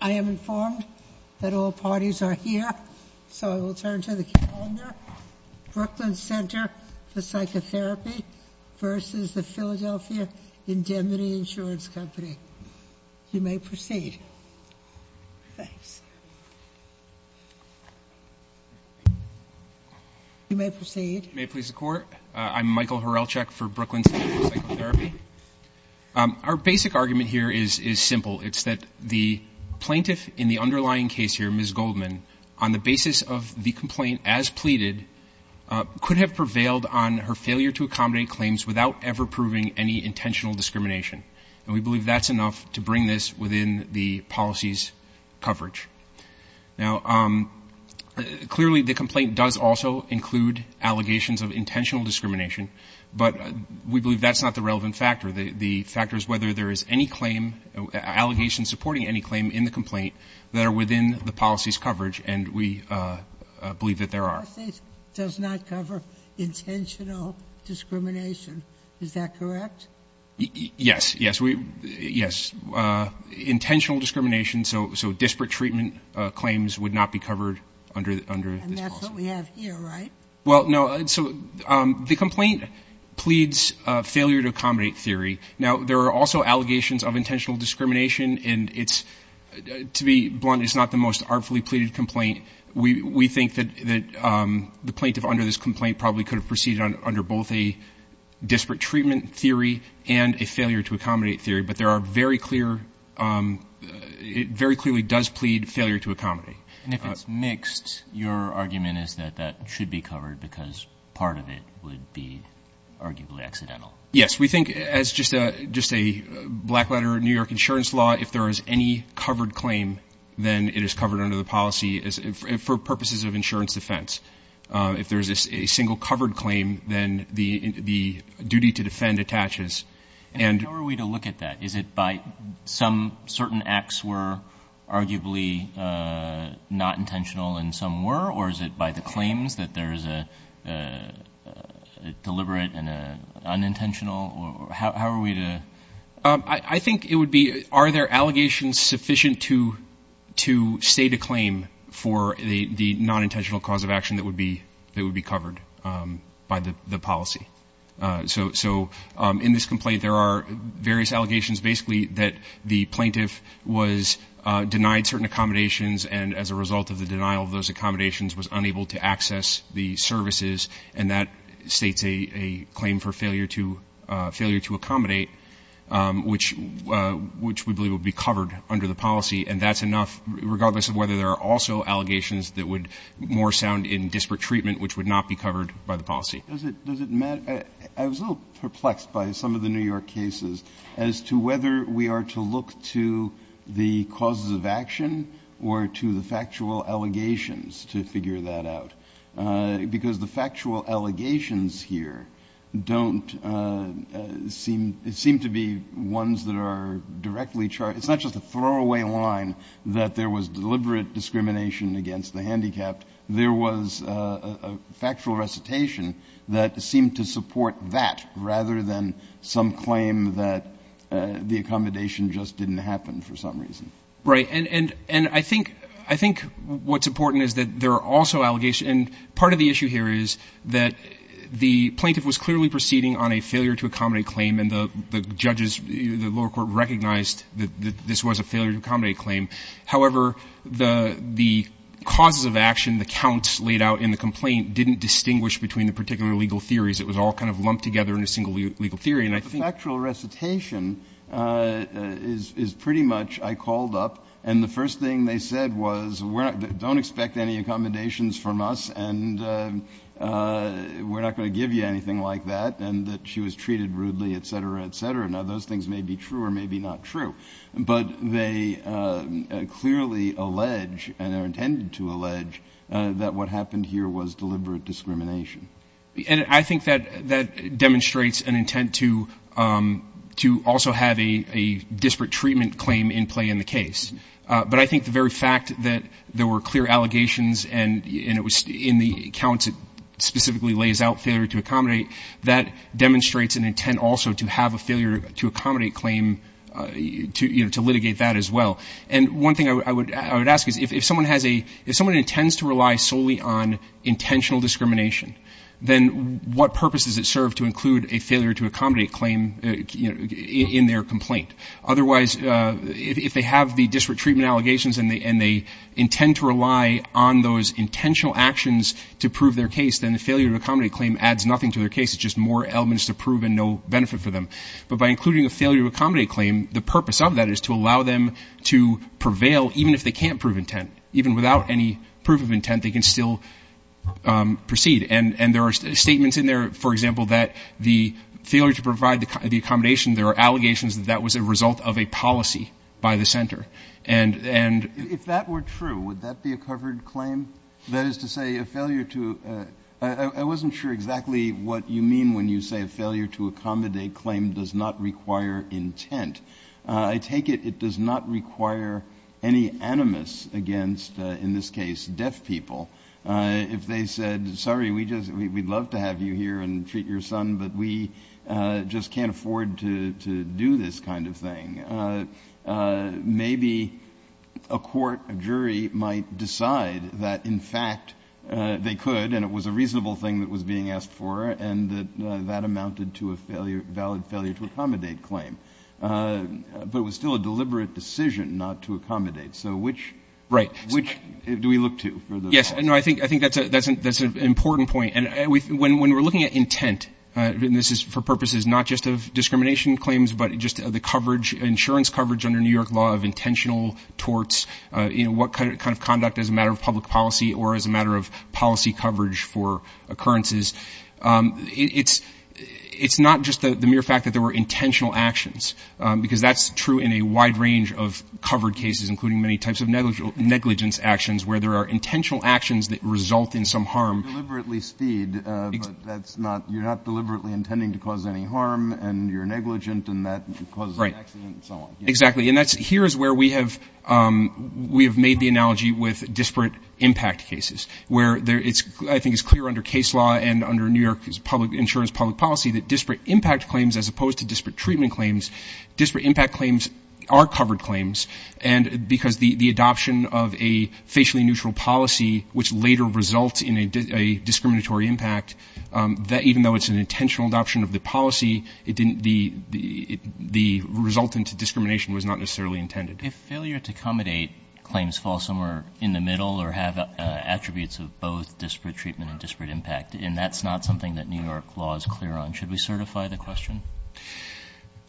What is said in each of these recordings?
I am informed that all parties are here, so I will turn to the calendar, Brooklyn Center for Psychotherapy versus the Philadelphia Indemnity Insurance Company. You may proceed. Thanks. You may proceed. May it please the Court? I'm Michael Hrelchek for Brooklyn Center for Psychotherapy. Our basic argument here is simple. It's that the plaintiff in the underlying case here, Ms. Goldman, on the basis of the complaint as pleaded, could have prevailed on her failure to accommodate claims without ever proving any intentional discrimination, and we believe that's enough to bring this within the policy's coverage. Now clearly the complaint does also include allegations of intentional discrimination, but we believe that's not the relevant factor. The factor is whether there is any claim, allegations supporting any claim in the complaint that are within the policy's coverage, and we believe that there are. The policy does not cover intentional discrimination. Is that correct? Yes. Yes. Yes. Intentional discrimination, so disparate treatment claims, would not be covered under this policy. And that's what we have here, right? Well, no, so the complaint pleads failure to accommodate theory. Now there are also allegations of intentional discrimination, and it's, to be blunt, it's not the most artfully pleaded complaint. We think that the plaintiff under this complaint probably could have proceeded under both a disparate treatment theory and a failure to accommodate theory, but there are very clear, it very clearly does plead failure to accommodate. And if it's mixed, your argument is that that should be covered because part of it would be arguably accidental. Yes. We think as just a black letter New York insurance law, if there is any covered claim, then it is covered under the policy for purposes of insurance defense. If there is a single covered claim, then the duty to defend attaches. And how are we to look at that? Is it by some certain acts were arguably not intentional and some were, or is it by the claims that there is a deliberate and an unintentional, or how are we to? I think it would be, are there allegations sufficient to state a claim for the non-intentional cause of action that would be covered by the policy? So in this complaint, there are various allegations, basically that the plaintiff was denied certain accommodations and as a result of the denial of those accommodations was unable to access the services. And that states a claim for failure to accommodate, which we believe will be covered under the policy. And that's enough, regardless of whether there are also allegations that would more sound in disparate treatment, which would not be covered by the policy. Does it matter? I was a little perplexed by some of the New York cases as to whether we are to look to the causes of action or to the factual allegations to figure that out. Because the factual allegations here don't seem to be ones that are directly charged. It's not just a throwaway line that there was deliberate discrimination against the handicapped. There was a factual recitation that seemed to support that rather than some claim that the accommodation just didn't happen for some reason. Right. And I think what's important is that there are also allegations, and part of the issue here is that the plaintiff was clearly proceeding on a failure to accommodate claim and the judges, the lower court recognized that this was a failure to accommodate claim. However, the causes of action, the counts laid out in the complaint didn't distinguish between the particular legal theories. It was all kind of lumped together in a single legal theory. And I think the factual recitation is pretty much, I called up and the first thing they said was, don't expect any accommodations from us and we're not going to give you anything like that. And that she was treated rudely, et cetera, et cetera. Now, those things may be true or maybe not true. But they clearly allege and are intended to allege that what happened here was deliberate discrimination. And I think that that demonstrates an intent to to also have a disparate treatment claim in play in the case. But I think the very fact that there were clear allegations and it was in the accounts it specifically lays out failure to accommodate, that demonstrates an intent also to have a failure to accommodate claim, to litigate that as well. And one thing I would ask is if someone has a, if someone intends to rely solely on intentional discrimination, then what purpose does it serve to include a failure to accommodate claim in their complaint? Otherwise, if they have the disparate treatment allegations and they intend to rely on those intentional actions to prove their case, then the failure to accommodate claim adds nothing to their case. It's just more elements to prove and no benefit for them. But by including a failure to accommodate claim, the purpose of that is to allow them to prevail even if they can't prove intent, even without any proof of intent, they can still proceed. And there are statements in there, for example, that the failure to provide the accommodation, there are allegations that that was a result of a policy by the center. And if that were true, would that be a covered claim? That is to say a failure to I wasn't sure exactly what you mean when you say a failure to accommodate claim does not require intent. I take it it does not require any animus against, in this case, deaf people. If they said, sorry, we just we'd love to have you here and treat your son, but we just can't afford to do this kind of thing. Maybe a court jury might decide that, in fact, they could and it was a reasonable thing that was being asked for and that amounted to a failure, valid failure to accommodate claim. But it was still a deliberate decision not to accommodate. So which right, which do we look to? Yes. And I think I think that's a that's an important point. And when we're looking at intent, this is for purposes not just of discrimination claims, but just the coverage insurance coverage under New York law of intentional torts. You know, what kind of conduct as a matter of public policy or as a matter of policy coverage for occurrences, it's it's not just the mere fact that there were intentional actions, because that's true in a wide range of covered cases, including many types of negligent negligence actions where there are intentional actions that result in some harm. Deliberately speed. That's not you're not deliberately intending to cause any harm and you're negligent and that causes an accident and so on. Exactly. And that's here is where we have we have made the analogy with disparate impact cases where it's I think it's clear under case law and under New York public insurance, public policy that disparate impact claims as opposed to disparate treatment claims, disparate impact claims are covered claims. And because the adoption of a facially neutral policy, which later results in a discriminatory impact that even though it's an intentional adoption of the policy, it didn't the the result into discrimination was not necessarily intended. If failure to accommodate claims fall somewhere in the middle or have attributes of both disparate treatment and disparate impact, and that's not something that New York law is clear on, should we certify the question?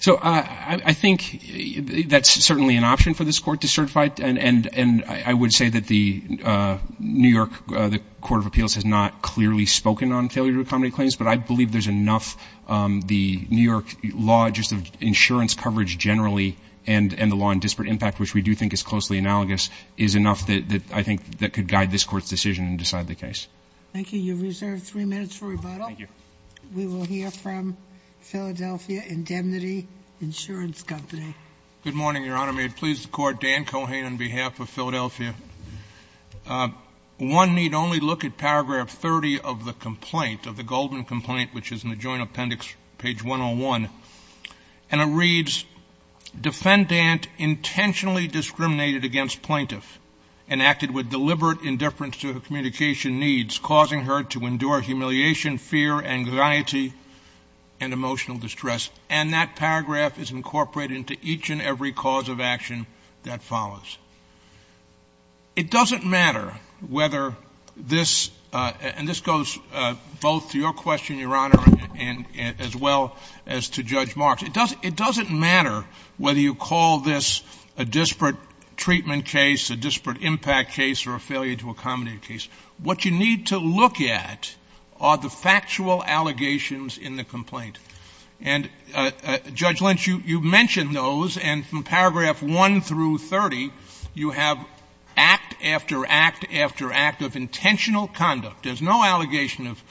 So I think that's certainly an option for this court to certify. And I would say that the New York Court of Appeals has not clearly spoken on failure to accommodate claims, but I believe there's enough the New York law just of insurance coverage generally and the law in disparate impact, which we do think is closely analogous, is enough that I think that could guide this court's decision and decide the case. Thank you. You reserve three minutes for rebuttal. Thank you. We will hear from Philadelphia Indemnity Insurance Company. Good morning, Your Honor. May it please the court, Dan Cohane on behalf of Philadelphia. One need only look at paragraph 30 of the complaint of the Goldman complaint, which is in the joint appendix, page 101. And it reads, defendant intentionally discriminated against plaintiff and acted with deliberate indifference to her communication needs, causing her to endure humiliation, fear, anxiety, and emotional distress. And that paragraph is incorporated into each and every cause of action that follows. It doesn't matter whether this, and this goes both to your question, Your Honor, and as well as to Judge Marks, it doesn't matter whether you call this a disparate treatment case, a disparate impact case, or a failure to accommodate a case. What you need to look at are the factual allegations in the complaint. And Judge Lynch, you mentioned those. And from paragraph one through 30, you have act after act after act of intentional conduct. There's no allegation of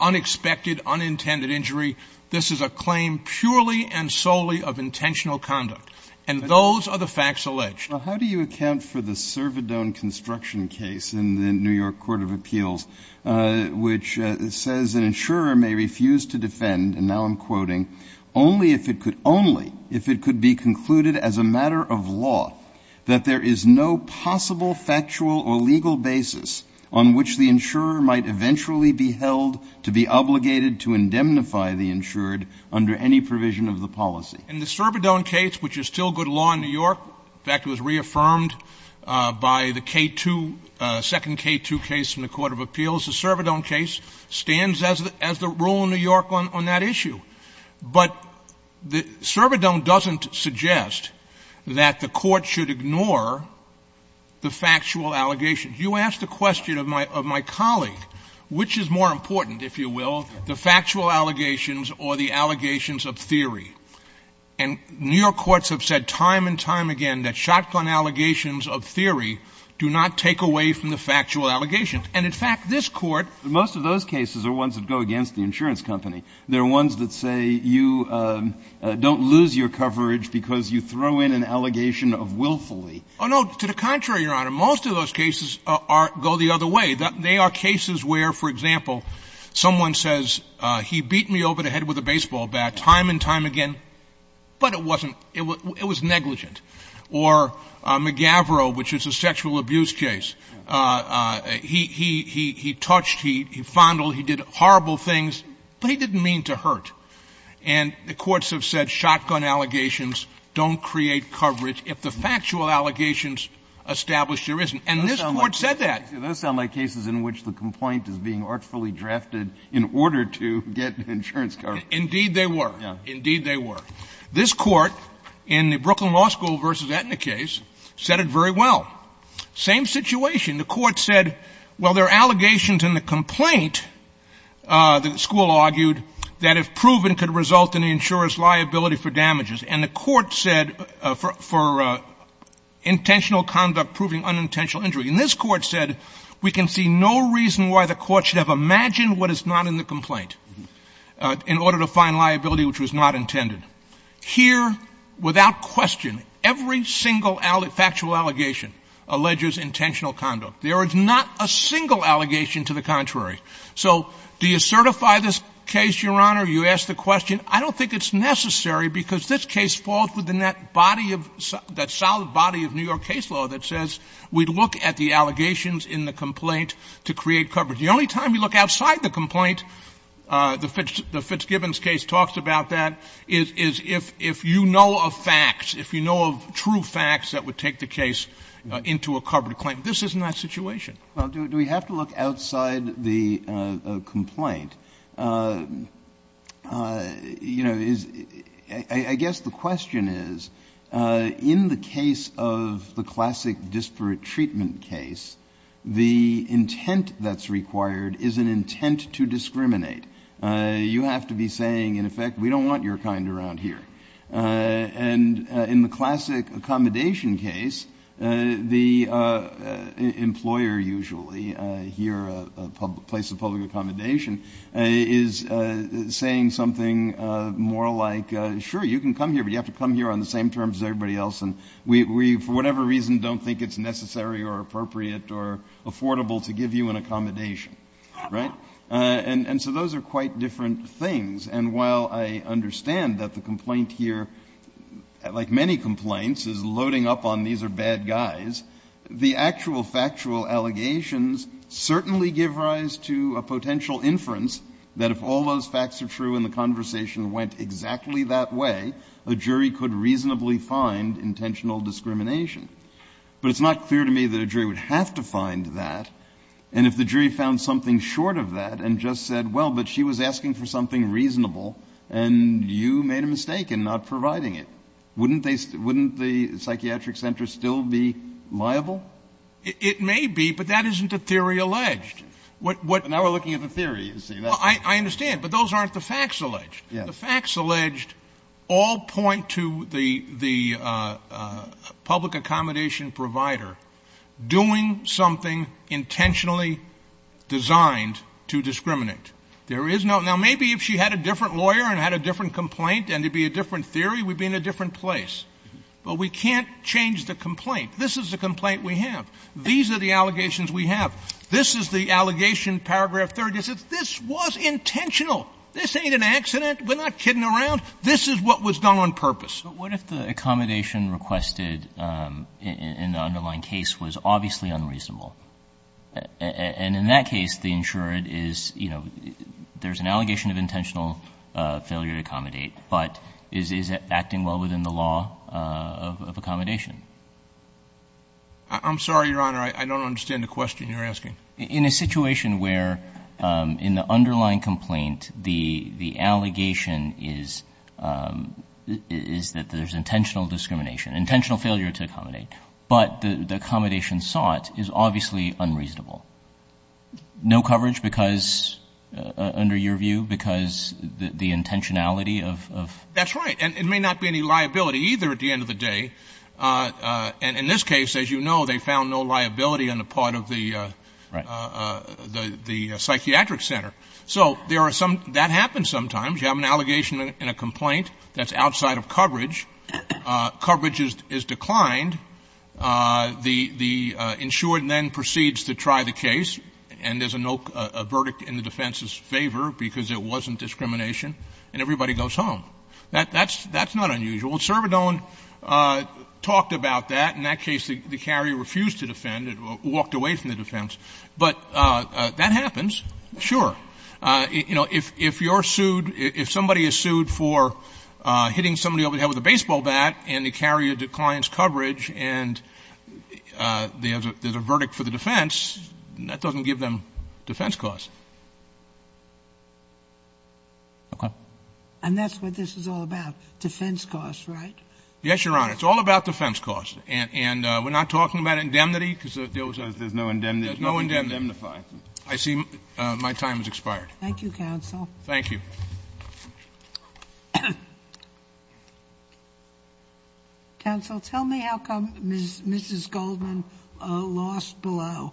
unexpected, unintended injury. This is a claim purely and solely of intentional conduct. And those are the facts alleged. Now, how do you account for the Servidone construction case in the New York Court of Appeals, which says an insurer may refuse to defend, and now I'm quoting, only if it could, only if it could be concluded as a matter of law that there is no possible factual or legal basis on which the insurer might eventually be held to be obligated to indemnify the insured under any provision of the policy. And the Servidone case, which is still good law in New York, in fact, it was reaffirmed by the K2, second K2 case in the Court of Appeals. The Servidone case stands as the rule in New York on that issue. But the Servidone doesn't suggest that the court should ignore the factual allegations. You asked the question of my colleague, which is more important, if you will, the factual allegations or the allegations of theory. And New York courts have said time and time again that shotgun allegations of theory do not take away from the factual allegations. And in fact, this court, most of those cases are ones that go against the insurance company. They're ones that say you don't lose your coverage because you throw in an allegation of willfully. Oh, no. To the contrary, Your Honor, most of those cases go the other way. They are cases where, for example, someone says he beat me over the head with a baseball bat time and time again, but it wasn't, it was negligent. Or McGavro, which is a sexual abuse case, he touched, he fondled, he did horrible things, but he didn't mean to hurt. And the courts have said shotgun allegations don't create coverage if the factual allegations established there isn't. And this court said that. Those sound like cases in which the complaint is being artfully drafted in order to get insurance coverage. Indeed they were. Indeed they were. This court in the Brooklyn Law School versus Aetna case said it very well. Same situation. The court said, well, there are allegations in the complaint, the school argued, that if proven could result in the insurer's liability for damages. And the court said for intentional conduct, proving unintentional injury. And this court said we can see no reason why the court should have imagined what is not in the complaint in order to find liability, which was not intended. Here, without question, every single factual allegation alleges intentional conduct. There is not a single allegation to the contrary. So do you certify this case, Your Honor? You asked the question. I don't think it's necessary because this case falls within that solid body of New York case law that says we'd look at the allegations in the complaint to create coverage. The only time you look outside the complaint, the Fitzgibbon's case talks about that, is if you know of facts, if you know of true facts that would take the case into a covered claim. This is not a situation. Well, do we have to look outside the complaint? You know, I guess the question is, in the case of the classic disparate treatment case, the intent that's required is an intent to discriminate. You have to be saying, in effect, we don't want your kind around here. And in the classic accommodation case, the employer usually, here a place of public accommodation, is saying something more like, sure, you can come here, but you have to come here on the same terms as everybody else, and we, for whatever reason, don't think it's necessary or appropriate or affordable to give you an accommodation. Right? And so those are quite different things. And while I understand that the complaint here, like many complaints, is loading up on these are bad guys, the actual factual allegations certainly give rise to a potential inference that if all those facts are true and the conversation went exactly that way, a jury could reasonably find intentional discrimination. But it's not clear to me that a jury would have to find that, and if the jury found something short of that and just said, well, but she was asking for something reasonable, and you made a mistake in not providing it, wouldn't the psychiatric center still be liable? It may be, but that isn't a theory alleged. Now we're looking at the theory, you see. I understand, but those aren't the facts alleged. The facts alleged all point to the public accommodation provider doing something intentionally designed to discriminate. There is no — now maybe if she had a different lawyer and had a different complaint and it'd be a different theory, we'd be in a different place. But we can't change the complaint. This is the complaint we have. These are the allegations we have. This is the allegation, paragraph 30 says, this was intentional. This ain't an accident. We're not kidding around. This is what was done on purpose. But what if the accommodation requested in the underlying case was obviously unreasonable? And in that case, the insurer is — you know, there's an allegation of intentional failure to accommodate, but is it acting well within the law of accommodation? I'm sorry, Your Honor, I don't understand the question you're asking. In a situation where in the underlying complaint the allegation is that there's intentional discrimination, intentional failure to accommodate, but the accommodation sought is obviously unreasonable. No coverage because — under your view, because the intentionality of — That's right. And it may not be any liability either at the end of the day. And in this case, as you know, they found no liability on the part of the — Right. — the psychiatric center. So there are some — that happens sometimes. You have an allegation in a complaint that's outside of coverage. Coverage is declined. The insured then proceeds to try the case, and there's a no — a verdict in the defense's favor because it wasn't discrimination, and everybody goes home. That's not unusual. Well, Cervodone talked about that. In that case, the carrier refused to defend, walked away from the defense. But that happens, sure. You know, if you're sued — if somebody is sued for hitting somebody over the head with a baseball bat, and the carrier declines coverage, and there's a verdict for the defense, that doesn't give them defense costs. Okay. And that's what this is all about. Defense costs, right? Yes, Your Honor. It's all about defense costs. And we're not talking about indemnity, because there's — There's no indemnity. There's nothing to indemnify. I see. My time has expired. Thank you, counsel. Thank you. Counsel, tell me how come Mrs. Goldman lost below?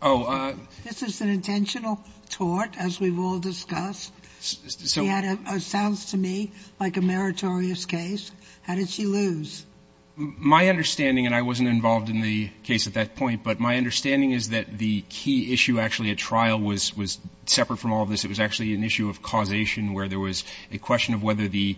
Oh, I — This is an intentional tort, as we've all discussed. So — It sounds to me like a meritorious case. How did she lose? My understanding — and I wasn't involved in the case at that point — but my understanding is that the key issue, actually, at trial was separate from all of this. It was actually an issue of causation, where there was a question of whether the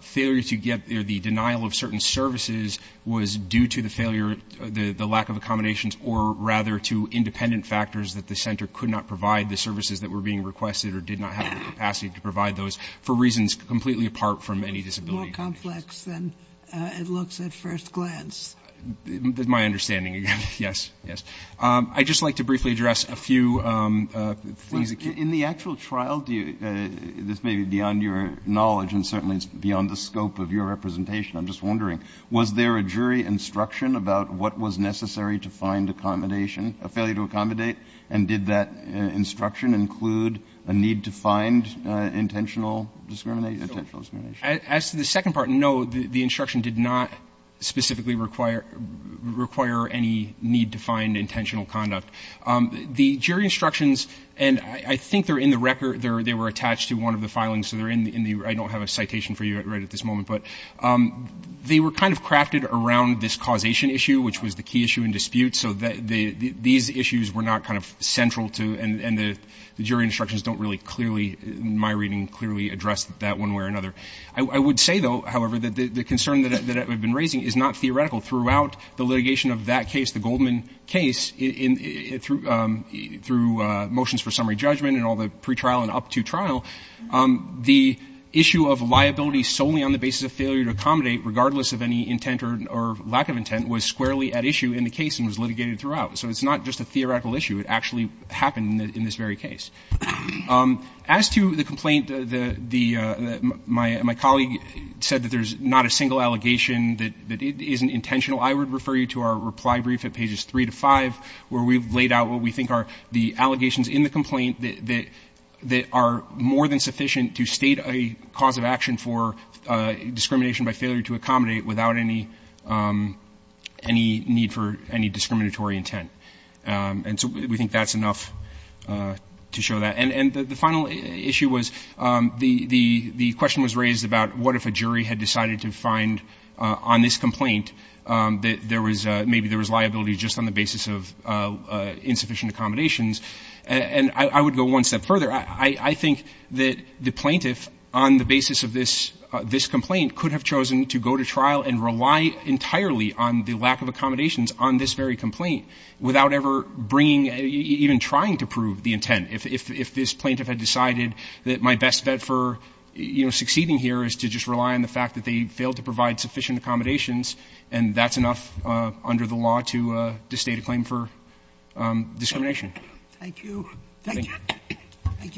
failure to get — or the denial of certain services was due to the failure — the lack of accommodations, or rather to independent factors that the center could not provide the services that were being requested or did not have the capacity to provide those, for reasons completely apart from any disability conditions. It was more complex than it looks at first glance. My understanding, yes. Yes. I'd just like to briefly address a few things — In the actual trial — this may be beyond your knowledge, and certainly it's beyond the scope of your representation — I'm just wondering, was there a jury instruction about what was necessary to find accommodation — a failure to accommodate? And did that instruction include a need to find intentional discrimination? As to the second part, no, the instruction did not specifically require any need to find intentional conduct. The jury instructions — and I think they're in the record — they were attached to one of the filings, so they're in the — I don't have a citation for you right at this moment, but they were kind of crafted around this causation issue, which was the key issue in dispute, so these issues were not kind of central to — and the jury instructions don't really clearly, in my reading, clearly address that one way or another. I would say, though, however, that the concern that I've been raising is not theoretical. Throughout the litigation of that case, the Goldman case, through motions for summary a failure to accommodate, regardless of any intent or lack of intent, was squarely at issue in the case and was litigated throughout. So it's not just a theoretical issue. It actually happened in this very case. As to the complaint, my colleague said that there's not a single allegation that isn't intentional. I would refer you to our reply brief at pages 3 to 5, where we've laid out what we think are the allegations in the complaint that are more than sufficient to state a cause of action for discrimination by failure to accommodate without any need for any discriminatory intent. And so we think that's enough to show that. And the final issue was, the question was raised about what if a jury had decided to find on this complaint that there was — maybe there was liability just on the basis of insufficient accommodations. And I would go one step further. I think that the plaintiff, on the basis of this complaint, could have chosen to go to trial and rely entirely on the lack of accommodations on this very complaint without ever bringing — even trying to prove the intent. If this plaintiff had decided that my best bet for, you know, succeeding here is to just rely on the fact that they failed to provide sufficient accommodations, and that's enough under the law to state a claim for discrimination. Thank you. Thank you. Thank you.